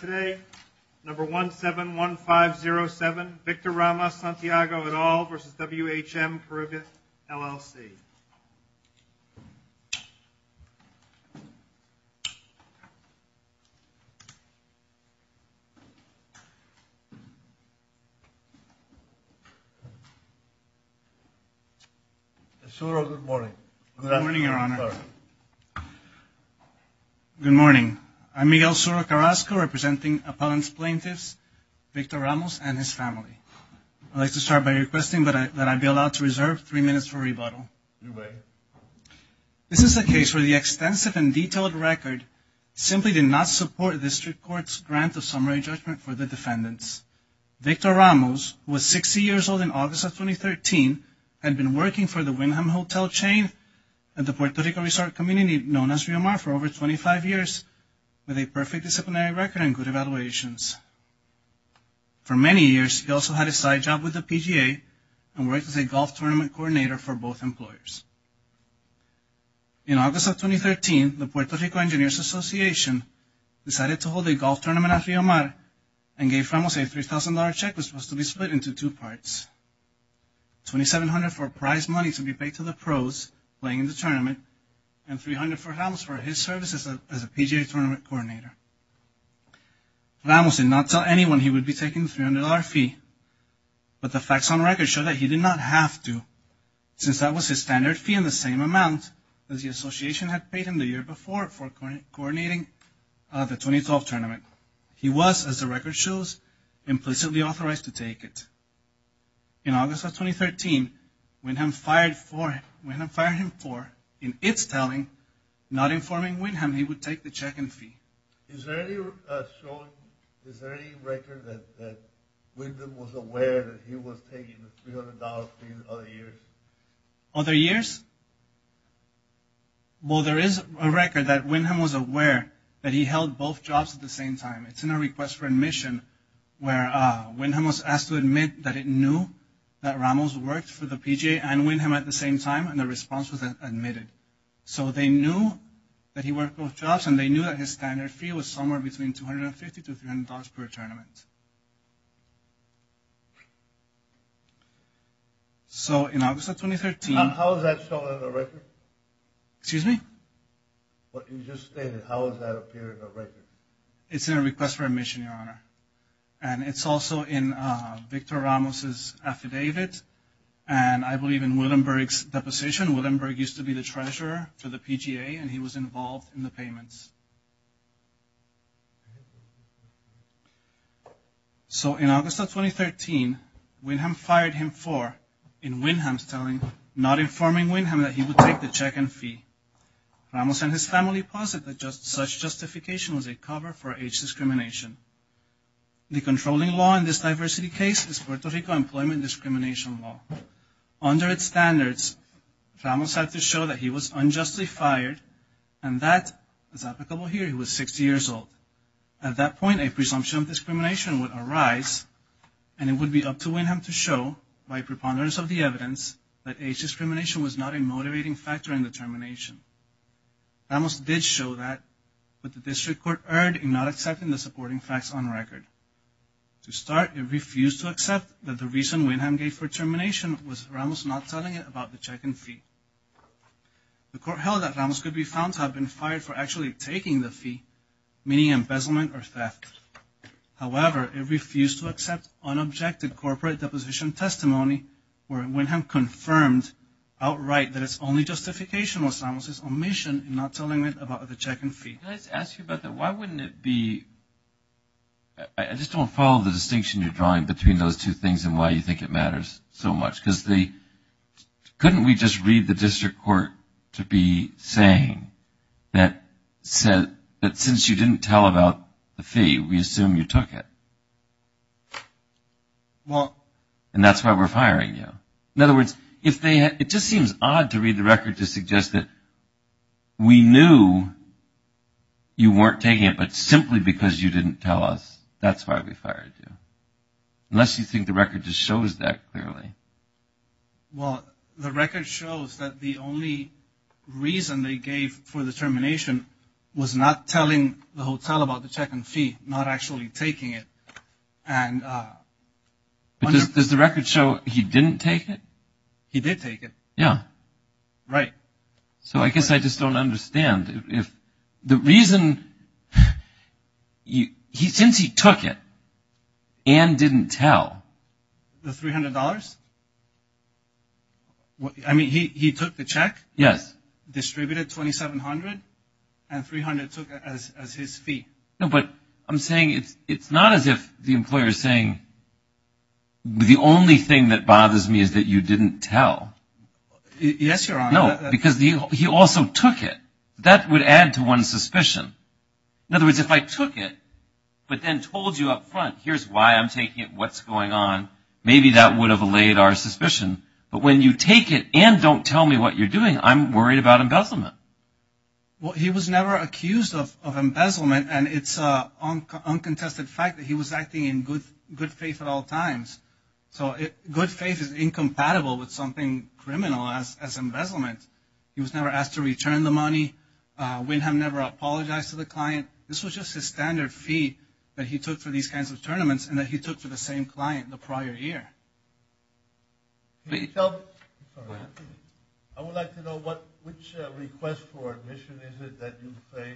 Today, number 171507, Victor Ramos-Santiago et al. v. WHM Carib LLC. Good morning, Your Honor. Good morning. I'm Miguel Soro Carrasco, representing Appellant's Plaintiffs Victor Ramos and his family. I'd like to start by requesting that I be allowed to reserve three minutes for rebuttal. Your way. This is a case where the extensive and detailed record simply did not support the District Court's grant of summary judgment for the defendants. Victor Ramos, who was 60 years old in August of 2013, had been working for the Whimham Hotel chain and the Puerto Rico resort community known as WMR for over 25 years with a perfect disciplinary record and good evaluations. For many years, he also had a side job with the PGA and worked as a golf tournament coordinator for both employers. In August of 2013, the Puerto Rico Engineers Association decided to hold a golf tournament at Riomar and gave Ramos a $3,000 check that was supposed to be split into two parts. $2,700 for prize money to be paid to the pros playing in the tournament and $300 for Ramos for his services as a PGA tournament coordinator. Ramos did not tell anyone he would be taking the $300 fee, but the facts on record show that he did not have to since that was his standard fee and the same amount that the association had paid him the year before for coordinating the 2012 tournament. He was, as the record shows, implicitly authorized to take it. In August of 2013, Whimham fired him for, in its telling, not informing Whimham he would take the check and fee. Is there any record that Whimham was aware that he was taking the $300 fee in other years? Other years? Well, there is a record that Whimham was aware that he held both jobs at the same time. It's in a request for admission where Whimham was asked to admit that it knew that Ramos worked for the PGA and Whimham at the same time and the response was admitted. So they knew that he worked both jobs and they knew that his standard fee was somewhere between $250 to $300 per tournament. So, in August of 2013... How is that shown in the record? Excuse me? What you just stated, how does that appear in the record? It's in a request for admission, Your Honor. And it's also in Victor Ramos' affidavit and I believe in Willenberg's deposition. Willenberg used to be the treasurer for the PGA and he was involved in the payments. So in August of 2013, Whimham fired him for, in Whimham's telling, not informing Whimham that he would take the check and fee. Ramos and his family posit that such justification was a cover for age discrimination. The controlling law in this diversity case is Puerto Rico Employment Discrimination Law. Under its standards, Ramos had to show that he was unjustly fired and that, as applicable here, he was 60 years old. At that point, a presumption of discrimination would arise and it would be up to Whimham to show, by preponderance of the evidence, that age discrimination was not a motivating factor in the termination. Ramos did show that, but the district court erred in not accepting the supporting facts on record. To start, it refused to accept that the reason Whimham gave for termination was Ramos not telling it about the check and fee. The court held that Ramos could be found to have been fired for actually taking the fee, meaning embezzlement or theft. However, it refused to accept unobjected corporate deposition testimony where Whimham confirmed outright that its only justification was Ramos' omission in not telling it about the check and fee. Can I ask you about that? Why wouldn't it be... I just don't follow the distinction you're drawing between those two things and why you think it matters so much. Couldn't we just read the district court to be saying that since you didn't tell about the fee, we assume you took it? And that's why we're firing you. In other words, it just seems odd to read the record to suggest that we knew you weren't taking it, but simply because you didn't tell us, that's why we fired you. Unless you think the record just shows that clearly. Well, the record shows that the only reason they gave for the termination was not telling the hotel about the check and fee, not actually taking it. Does the record show he didn't take it? He did take it. Yeah. Right. So I guess I just don't understand. The reason... since he took it and didn't tell... The $300? I mean, he took the check, distributed $2,700, and $300 took it as his fee. No, but I'm saying it's not as if the employer is saying, the only thing that bothers me is that you didn't tell. Yes, Your Honor. No, because he also took it. That would add to one's suspicion. In other words, if I took it, but then told you up front, here's why I'm taking it, what's going on, maybe that would have allayed our suspicion. But when you take it and don't tell me what you're doing, I'm worried about embezzlement. Well, he was never accused of embezzlement, and it's an uncontested fact that he was acting in good faith at all times. So good faith is incompatible with something criminal as embezzlement. He was never asked to return the money. Windham never apologized to the client. This was just his standard fee that he took for these kinds of tournaments and that he took for the same client the prior year. I would like to know which request for admission is it that you say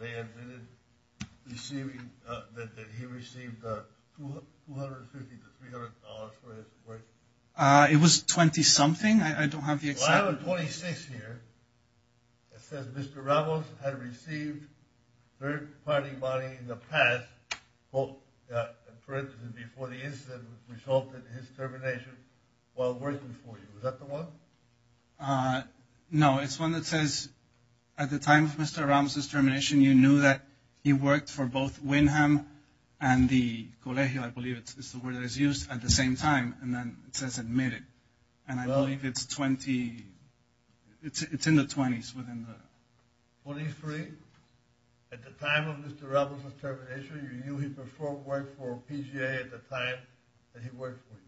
they admitted that he received $250 to $300 for his work? It was $20 something. I don't have the exact number. Well, I have a $26 here that says Mr. Ramos had received third party money in the past, for instance, before the incident resulted in his termination, while working for you. Is that the one? No, it's one that says at the time of Mr. Ramos' termination, you knew that he worked for both Windham and the Colegio, I believe is the word that is used, at the same time, and then it says admitted. And I believe it's in the 20s. 23? At the time of Mr. Ramos' termination, you knew he had worked for PGA at the time that he worked for you?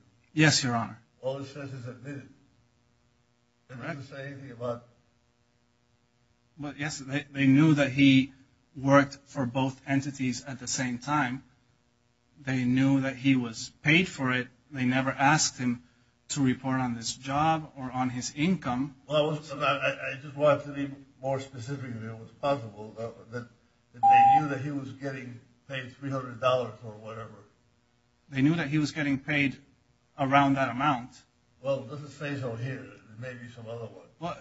Yes, Your Honor. All it says is admitted. Correct. But yes, they knew that he worked for both entities at the same time. They knew that he was paid for it. They never asked him to report on this job or on his income. Well, I just wanted to be more specific. It was possible that they knew that he was getting paid $300 or whatever. They knew that he was getting paid around that amount. Well, it doesn't say so here. There may be some other ones. Well,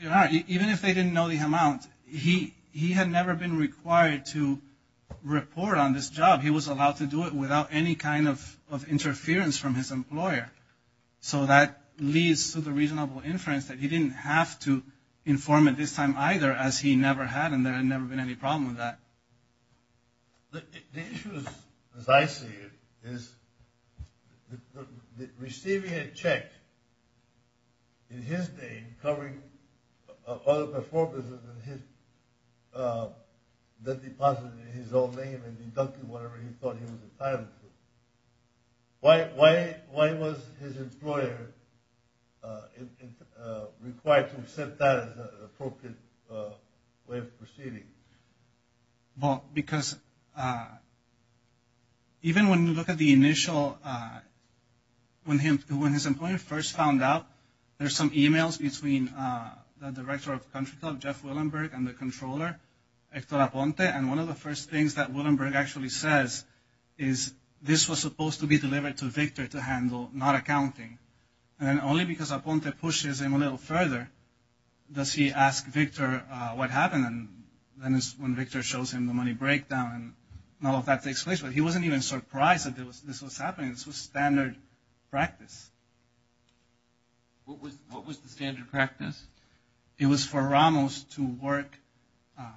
Your Honor, even if they didn't know the amount, he had never been required to report on this job. He was allowed to do it without any kind of interference from his parents that he didn't have to inform at this time either, as he never had, and there had never been any problem with that. The issue, as I see it, is receiving a check in his name covering all the performances that he deposited in his own name and deducting whatever he thought he was entitled to. Why was his employer required to accept that as an appropriate way of proceeding? Well, because even when you look at the initial, when his employer first found out, there's some emails between the director of Country Club, Jeff Willenberg, and the controller, Hector Aponte, and one of the first things that Willenberg actually says is, this was supposed to be delivered to Victor to handle, not accounting. And then only because Aponte pushes him a little further does he ask Victor what happened and then when Victor shows him the money breakdown and all of that takes place. But he wasn't even surprised that this was happening. This was standard practice. What was the standard practice? It was for Ramos to work,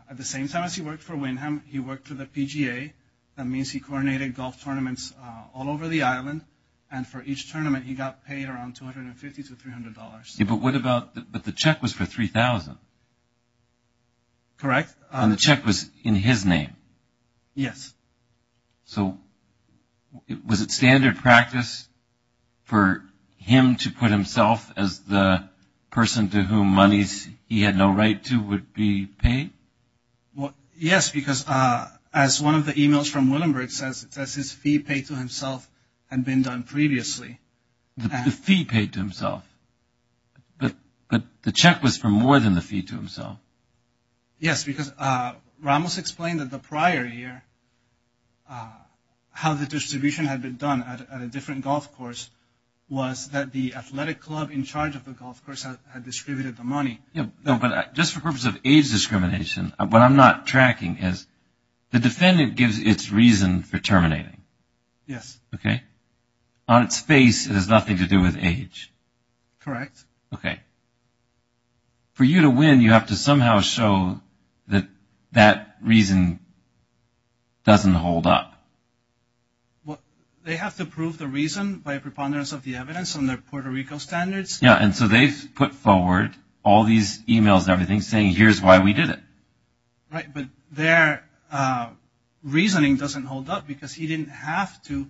at the same time as he worked for Windham, he worked for the PGA. That means he coordinated golf tournaments all over the island and for each tournament he got paid around $250 to $300. But what about, but the check was for $3,000. Correct. And the check was in his name. Yes. So was it standard practice for him to put himself as the person to whom monies he had no right to would be paid? Yes, because as one of the emails from Willenberg says, it says his fee paid to himself had been done previously. The fee paid to himself. But the check was for more than the fee to himself. Yes, because Ramos explained that the prior year how the distribution had been done at a different golf course was that the athletic club in charge of the golf course had distributed the money. But just for purpose of age discrimination, what I'm not tracking is the defendant gives its reason for terminating. Yes. Okay. On its face it has nothing to do with age. Correct. Okay. For you to win, you have to somehow show that that reason doesn't hold up. They have to prove the reason by a preponderance of the evidence on their Puerto Rico standards. Yes. And so they've put forward all these emails and everything saying here's why we did it. Right. But their reasoning doesn't hold up because he didn't have to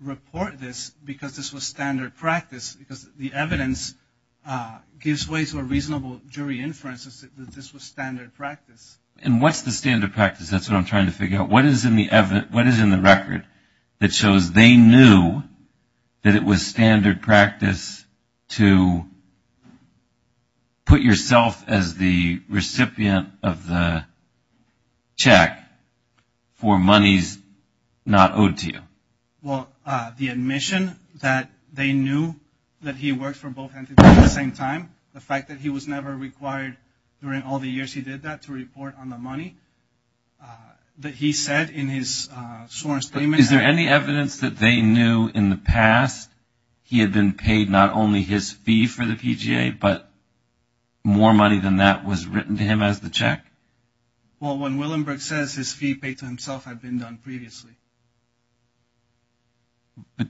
report this because this was standard practice because the evidence gives way to a reasonable jury inference that this was standard practice. And what's the standard practice? That's what I'm trying to figure out. What is in the record that shows they knew that it was standard practice to put yourself as the recipient of the check for monies not owed to you? Well, the admission that they knew that he worked for both entities at the same time. The fact that he was never required during all the years he did that to report on the money that he said in his sworn statement. Is there any evidence that they knew in the past he had been paid not only his fee for the PGA, but more money than that was written to him as the check? Well, when Willenberg says his fee paid to himself had been done previously. But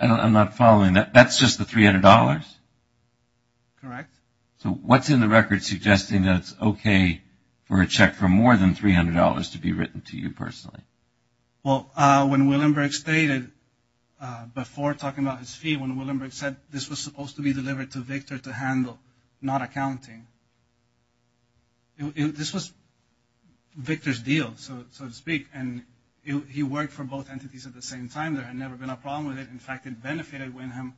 I'm not following that. That's just the $300? Correct. So what's in the record suggesting that it's okay for a check for more than $300 to be written to you personally? Well, when Willenberg stated before talking about his fee, when Willenberg said this was supposed to be delivered to Victor to handle, not accounting, this was Victor's deal, so to speak. And he worked for both entities at the same time. There had never been a problem with it. In fact, it benefited Willenberg.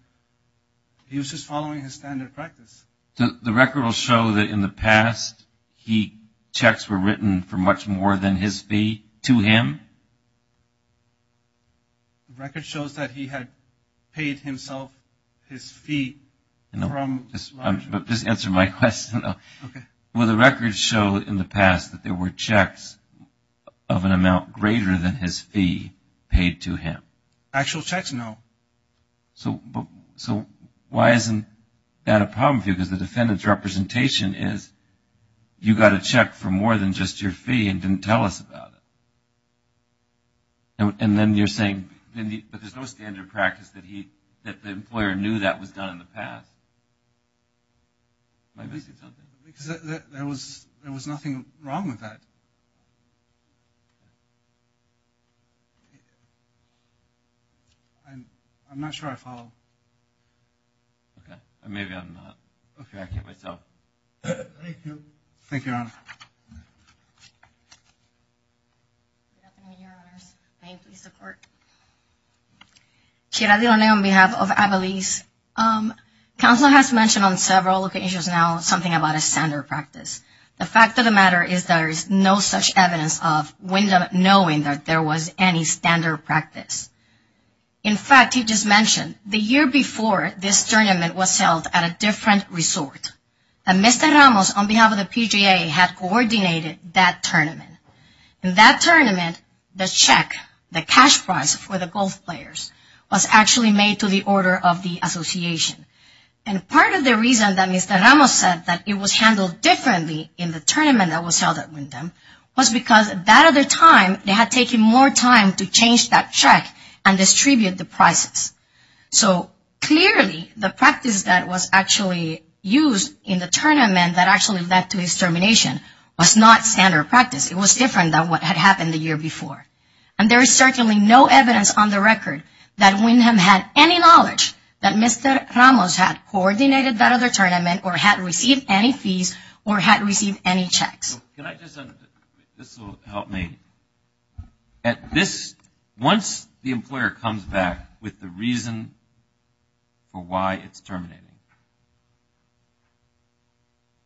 He was just following his standard practice. The record will show that in the past, checks were written for much more than his fee to him? The record shows that he had paid himself his fee from Robert. Just answer my question, though. Okay. So the record showed in the past that there were checks of an amount greater than his fee paid to him? Actual checks, no. So why isn't that a problem for you? Because the defendant's representation is you got a check for more than just your fee and didn't tell us about it. And then you're saying, but there's no standard practice that the employer knew that was done in the past. Because there was nothing wrong with that. I'm not sure I follow. Okay. Maybe I'm not. Okay. I can't myself. Thank you. Thank you, Your Honor. Your Honor, may I please support? Shiradi Roneo on behalf of Avalese. Counselor has mentioned on several occasions now something about a standard practice. The fact of the matter is there is no such evidence of Wyndham knowing that there was any standard practice. In fact, he just mentioned the year before this tournament was held at a different resort. And Mr. Ramos, on behalf of the PGA, had coordinated that tournament. In that tournament, the check, the cash prize for the golf players, was actually made to the order of the association. And part of the reason that Mr. Ramos said that it was handled differently in the tournament that was held at Wyndham was because that other time they had taken more time to change that check and distribute the prizes. So clearly the practice that was actually used in the tournament that actually led to his termination was not standard practice. It was different than what had happened the year before. And there is certainly no evidence on the record that Wyndham had any knowledge that Mr. Ramos had coordinated that other tournament or had received any fees or had received any checks. This will help me. Once the employer comes back with the reason for why it's terminating,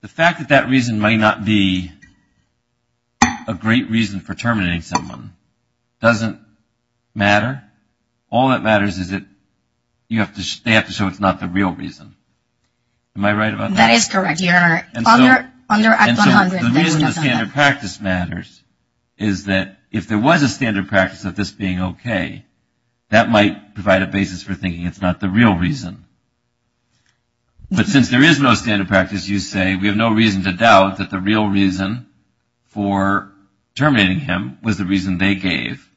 the fact that that reason may not be a great reason for terminating someone doesn't matter. All that matters is that they have to show it's not the real reason. Am I right about that? That is correct. And so the reason the standard practice matters is that if there was a standard practice of this being okay, that might provide a basis for thinking it's not the real reason. But since there is no standard practice, you say we have no reason to doubt that the real reason for terminating him was the reason they gave,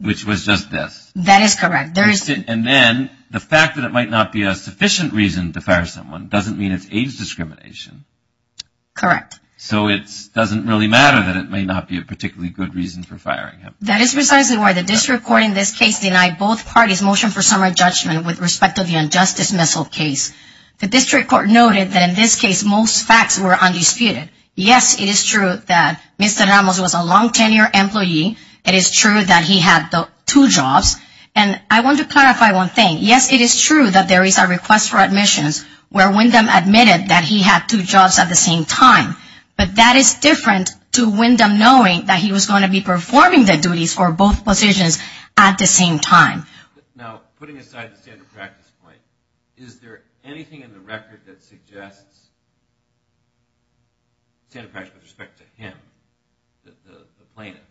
which was just this. That is correct. And then the fact that it might not be a sufficient reason to fire someone doesn't mean it's age discrimination. Correct. So it doesn't really matter that it may not be a particularly good reason for firing him. That is precisely why the district court in this case denied both parties' motion for summary judgment with respect to the unjust dismissal case. The district court noted that in this case most facts were undisputed. Yes, it is true that Mr. Ramos was a long-tenure employee. It is true that he had two jobs. And I want to clarify one thing. Yes, it is true that there is a request for admissions where Wyndham admitted that he had two jobs at the same time. But that is different to Wyndham knowing that he was going to be performing the duties for both positions at the same time. Now, putting aside the standard practice point, is there anything in the record that suggests standard practice with respect to him, the plaintiff?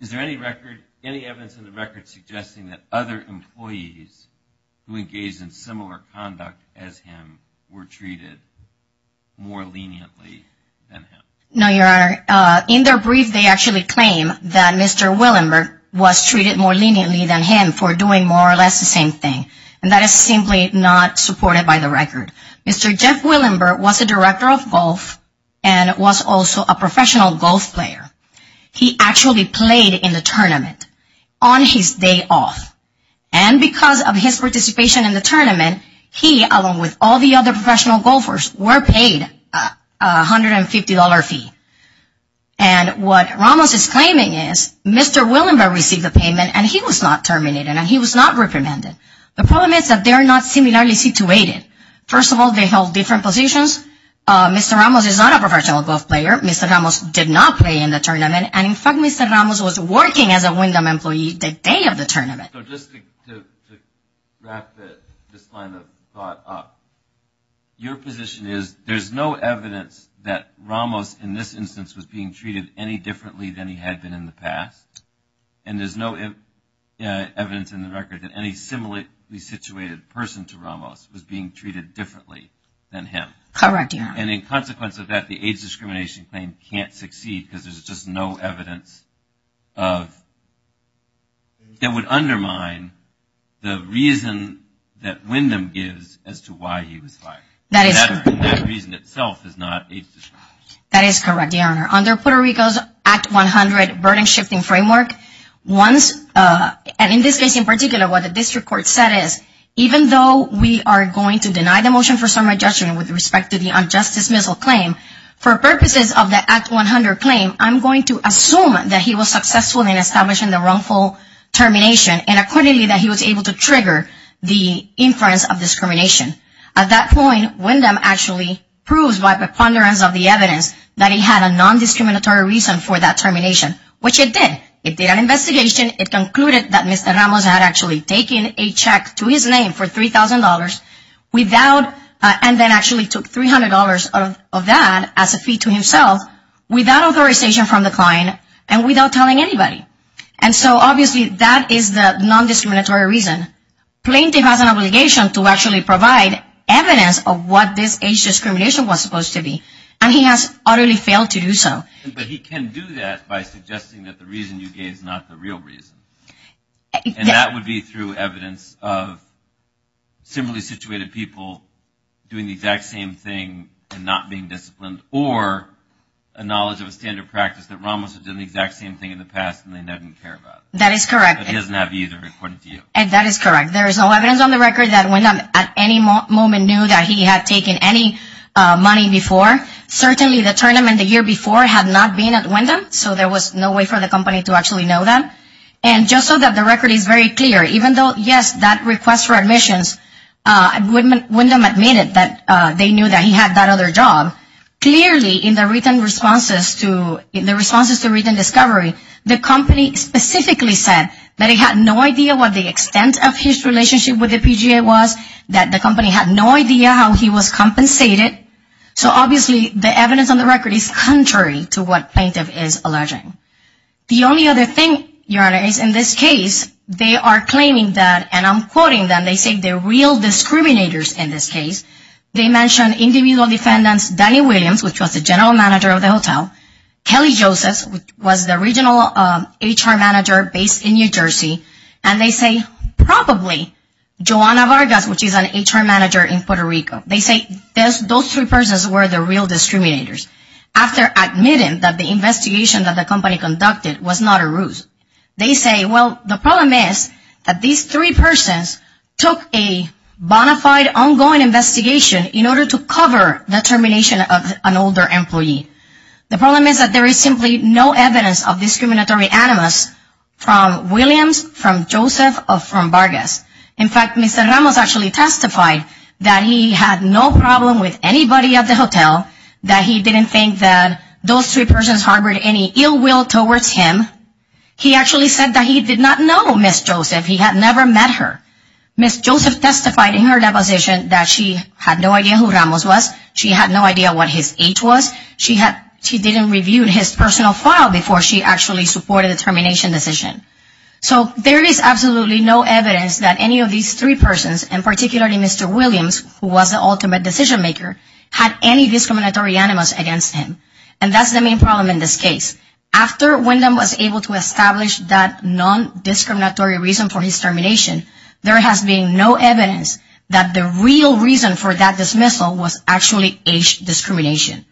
Is there any record, any evidence in the record suggesting that other employees who engaged in similar conduct as him were treated more leniently than him? No, Your Honor. In their brief they actually claim that Mr. Willenberg was treated more leniently than him for doing more or less the same thing. And that is simply not supported by the record. Mr. Jeff Willenberg was a director of golf and was also a professional golf player. He actually played in the tournament on his day off. And because of his participation in the tournament, he, along with all the other professional golfers, were paid a $150 fee. And what Ramos is claiming is Mr. Willenberg received the payment and he was not terminated and he was not reprimanded. The problem is that they are not similarly situated. First of all, they held different positions. Mr. Ramos is not a professional golf player. Mr. Ramos did not play in the tournament. And in fact, Mr. Ramos was working as a Wyndham employee the day of the tournament. So just to wrap this line of thought up, your position is there's no evidence that Ramos in this instance was being treated any differently than he had been in the past? And there's no evidence in the record that any similarly situated person to Ramos was being treated differently than him? Correct, Your Honor. And in consequence of that, the age discrimination claim can't succeed because there's just no evidence of that would undermine the reason that Wyndham gives as to why he was fired. That is correct. And that reason itself is not age discrimination. That is correct, Your Honor. Under Puerto Rico's Act 100 burden shifting framework, once, and in this case in particular, what the district court said is, even though we are going to deny the motion for summary judgment with respect to the unjust dismissal claim, for purposes of the Act 100 claim, I'm going to assume that he was successful in establishing the wrongful termination and accordingly that he was able to trigger the inference of discrimination. At that point, Wyndham actually proves by preponderance of the evidence that he had a non-discriminatory reason for that termination, which it did. It did an investigation. It concluded that Mr. Ramos had actually taken a check to his name for $3,000 without, and then actually took $300 of that as a fee to himself without authorization from the client and without telling anybody. And so, obviously, that is the non-discriminatory reason. Plaintiff has an obligation to actually provide evidence of what this age discrimination was supposed to be, and he has utterly failed to do so. But he can do that by suggesting that the reason you gave is not the real reason. And that would be through evidence of similarly situated people doing the exact same thing and not being disciplined, or a knowledge of a standard practice that Ramos had done the exact same thing in the past and they didn't care about it. That is correct. But he doesn't have either, according to you. And that is correct. There is no evidence on the record that Wyndham at any moment knew that he had taken any money before. Certainly, the tournament the year before had not been at Wyndham, so there was no way for the company to actually know that. And just so that the record is very clear, even though, yes, that request for admissions, Wyndham admitted that they knew that he had that other job. Clearly, in the written responses to written discovery, the company specifically said that it had no idea what the extent of his relationship with the PGA was, that the company had no idea how he was compensated. So obviously, the evidence on the record is contrary to what plaintiff is alleging. The only other thing, Your Honor, is in this case, they are claiming that, and I'm quoting them, they say they're real discriminators in this case. They mention individual defendants, Danny Williams, which was the general manager of the hotel, Kelly Josephs, which was the regional HR manager based in New Jersey, and they say probably Joanna Vargas, which is an HR manager in Puerto Rico. They say those three persons were the real discriminators. After admitting that the investigation that the company conducted was not a ruse, they say, well, the problem is that these three persons took a bona fide ongoing investigation in order to cover the termination of an older employee. The problem is that there is simply no evidence of discriminatory animus from Williams, from Joseph, or from Vargas. In fact, Mr. Ramos actually testified that he had no problem with anybody at the hotel, that he didn't think that those three persons harbored any ill will towards him. He actually said that he did not know Ms. Joseph. He had never met her. Ms. Joseph testified in her deposition that she had no idea who Ramos was. She had no idea what his age was. She didn't review his personal file before she actually supported the termination decision. So there is absolutely no evidence that any of these three persons, and particularly Mr. Williams, who was the ultimate decision maker, had any discriminatory animus against him. And that's the main problem in this case. After Wyndham was able to establish that non-discriminatory reason for his termination, there has been no evidence that the real reason for that dismissal was actually age discrimination.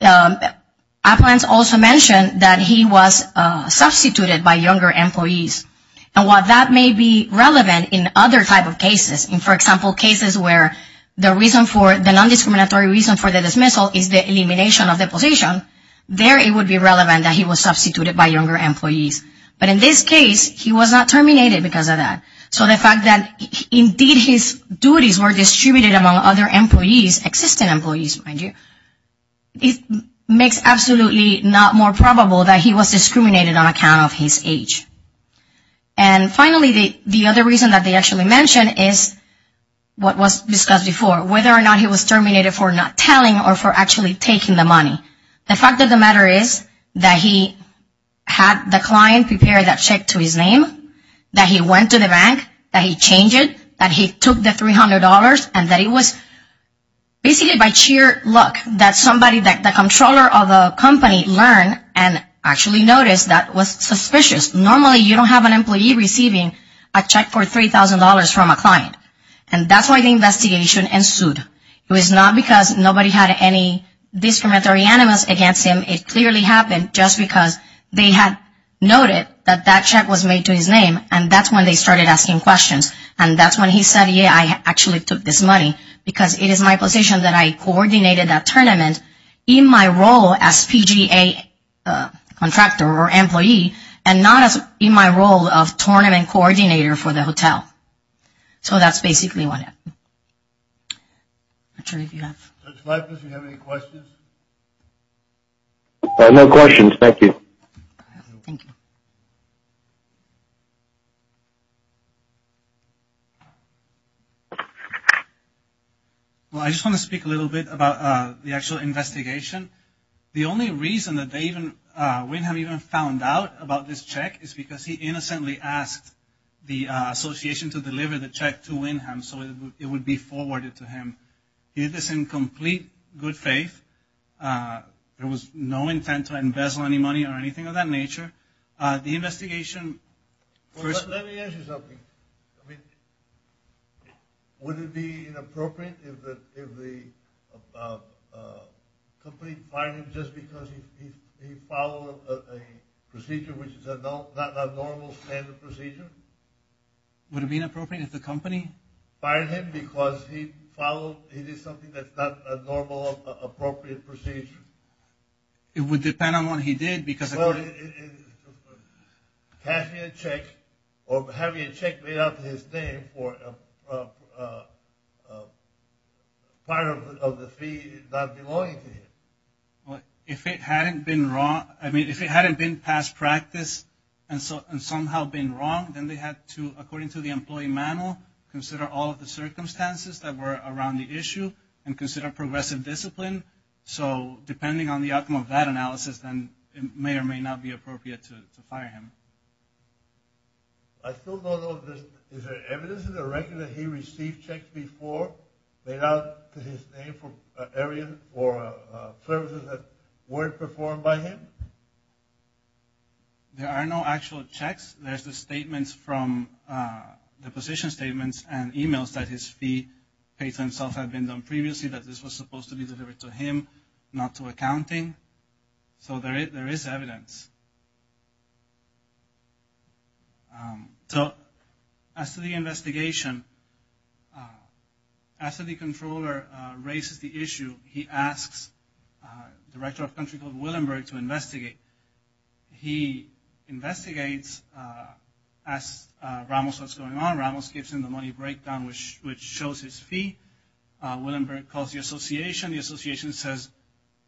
Appellants also mentioned that he was substituted by younger employees. And while that may be relevant in other type of cases, for example, cases where the reason for the non-discriminatory reason for the dismissal is the elimination of the position, there it would be relevant that he was substituted by younger employees. But in this case, he was not terminated because of that. So the fact that indeed his duties were distributed among other employees, his existing employees, mind you, it makes absolutely not more probable that he was discriminated on account of his age. And finally, the other reason that they actually mentioned is what was discussed before, whether or not he was terminated for not telling or for actually taking the money. The fact of the matter is that he had the client prepare that check to his name, that he went to the bank, that he changed it, that he took the $300, and that it was basically by sheer luck that somebody, the controller of the company, learned and actually noticed that was suspicious. Normally you don't have an employee receiving a check for $3,000 from a client. And that's why the investigation ensued. It was not because nobody had any discriminatory animus against him. It clearly happened just because they had noted that that check was made to his name, and that's when they started asking questions. And that's when he said, yeah, I actually took this money, because it is my position that I coordinated that tournament in my role as PGA contractor or employee and not in my role of tournament coordinator for the hotel. So that's basically what happened. I'm not sure if you have any questions. No questions. Thank you. Thank you. Well, I just want to speak a little bit about the actual investigation. The only reason that they even, Wynnham even found out about this check is because he He did this in complete good faith. There was no intent to embezzle any money or anything of that nature. The investigation. Let me ask you something. Would it be inappropriate if the company fired him just because he followed a procedure, which is not a normal standard procedure? Would it be inappropriate if the company fired him because he followed, he did something that's not a normal, appropriate procedure? It would depend on what he did, because Cash me a check or have me a check made out to his name for fire of the fee not belonging to him. If it hadn't been wrong, I mean, if it hadn't been past practice and somehow been wrong, then they had to, according to the employee manual, consider all of the circumstances that were around the issue and consider progressive discipline. So depending on the outcome of that analysis, then it may or may not be appropriate to fire him. I still don't know. Is there evidence in the record that he received checks before made out to his name for areas or services that weren't performed by him? There are no actual checks. There's the statements from the position statements and e-mails that his fee paid to himself had been done previously, that this was supposed to be delivered to him, not to accounting. So there is evidence. So as to the investigation, after the controller raises the issue, he asks Director of Country Club Willenberg to investigate. He investigates, asks Ramos what's going on. Ramos gives him the money breakdown, which shows his fee. Willenberg calls the association. The association says,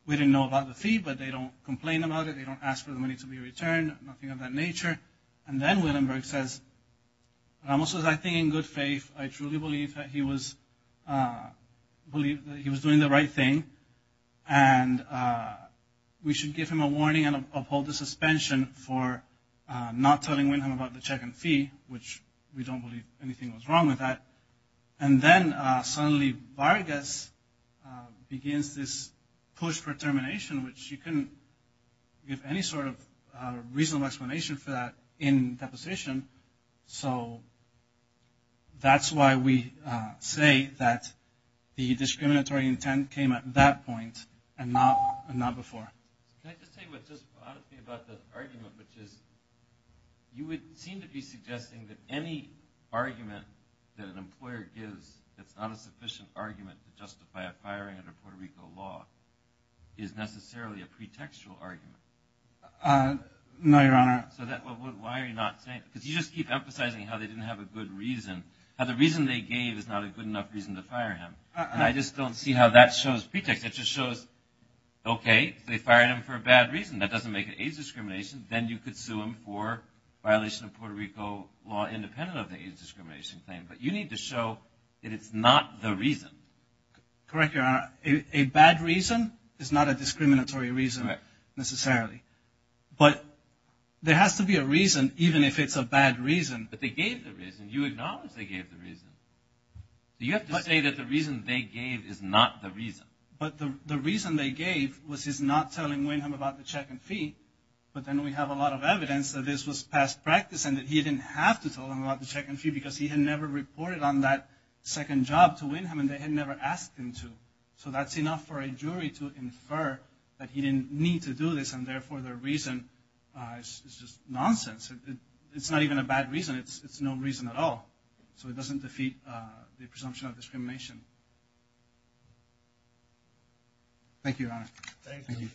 we didn't know about the fee, but they don't complain about it. They don't ask for the money to be returned, nothing of that nature. And then Willenberg says, Ramos says, I think in good faith, I truly believe that he was doing the right thing, and we should give him a warning and uphold the suspension for not telling Windham about the check and fee, which we don't believe anything was wrong with that. And then suddenly Vargas begins this push for termination, which he couldn't give any sort of reasonable explanation for that in the position. So that's why we say that the discriminatory intent came at that point and not before. Can I just say honestly about the argument, which is you would seem to be suggesting that any argument that an employer gives that's not a sufficient argument to justify a firing under Puerto Rico law is necessarily a pretextual argument. No, Your Honor. So why are you not saying, because you just keep emphasizing how they didn't have a good reason, how the reason they gave is not a good enough reason to fire him. And I just don't see how that shows pretext. It just shows, okay, they fired him for a bad reason. That doesn't make it age discrimination. Then you could sue him for violation of Puerto Rico law independent of the age discrimination claim. But you need to show that it's not the reason. Correct, Your Honor. A bad reason is not a discriminatory reason necessarily. But there has to be a reason, even if it's a bad reason. But they gave the reason. You acknowledge they gave the reason. You have to say that the reason they gave is not the reason. But the reason they gave was his not telling Wynham about the check and fee. But then we have a lot of evidence that this was past practice and that he didn't have to tell him about the check and fee because he had never reported on that second job to Wynham and they had never asked him to. So that's enough for a jury to infer that he didn't need to do this and therefore their reason is just nonsense. It's not even a bad reason. It's no reason at all. So it doesn't defeat the presumption of discrimination. Thank you, Your Honor. Thank you.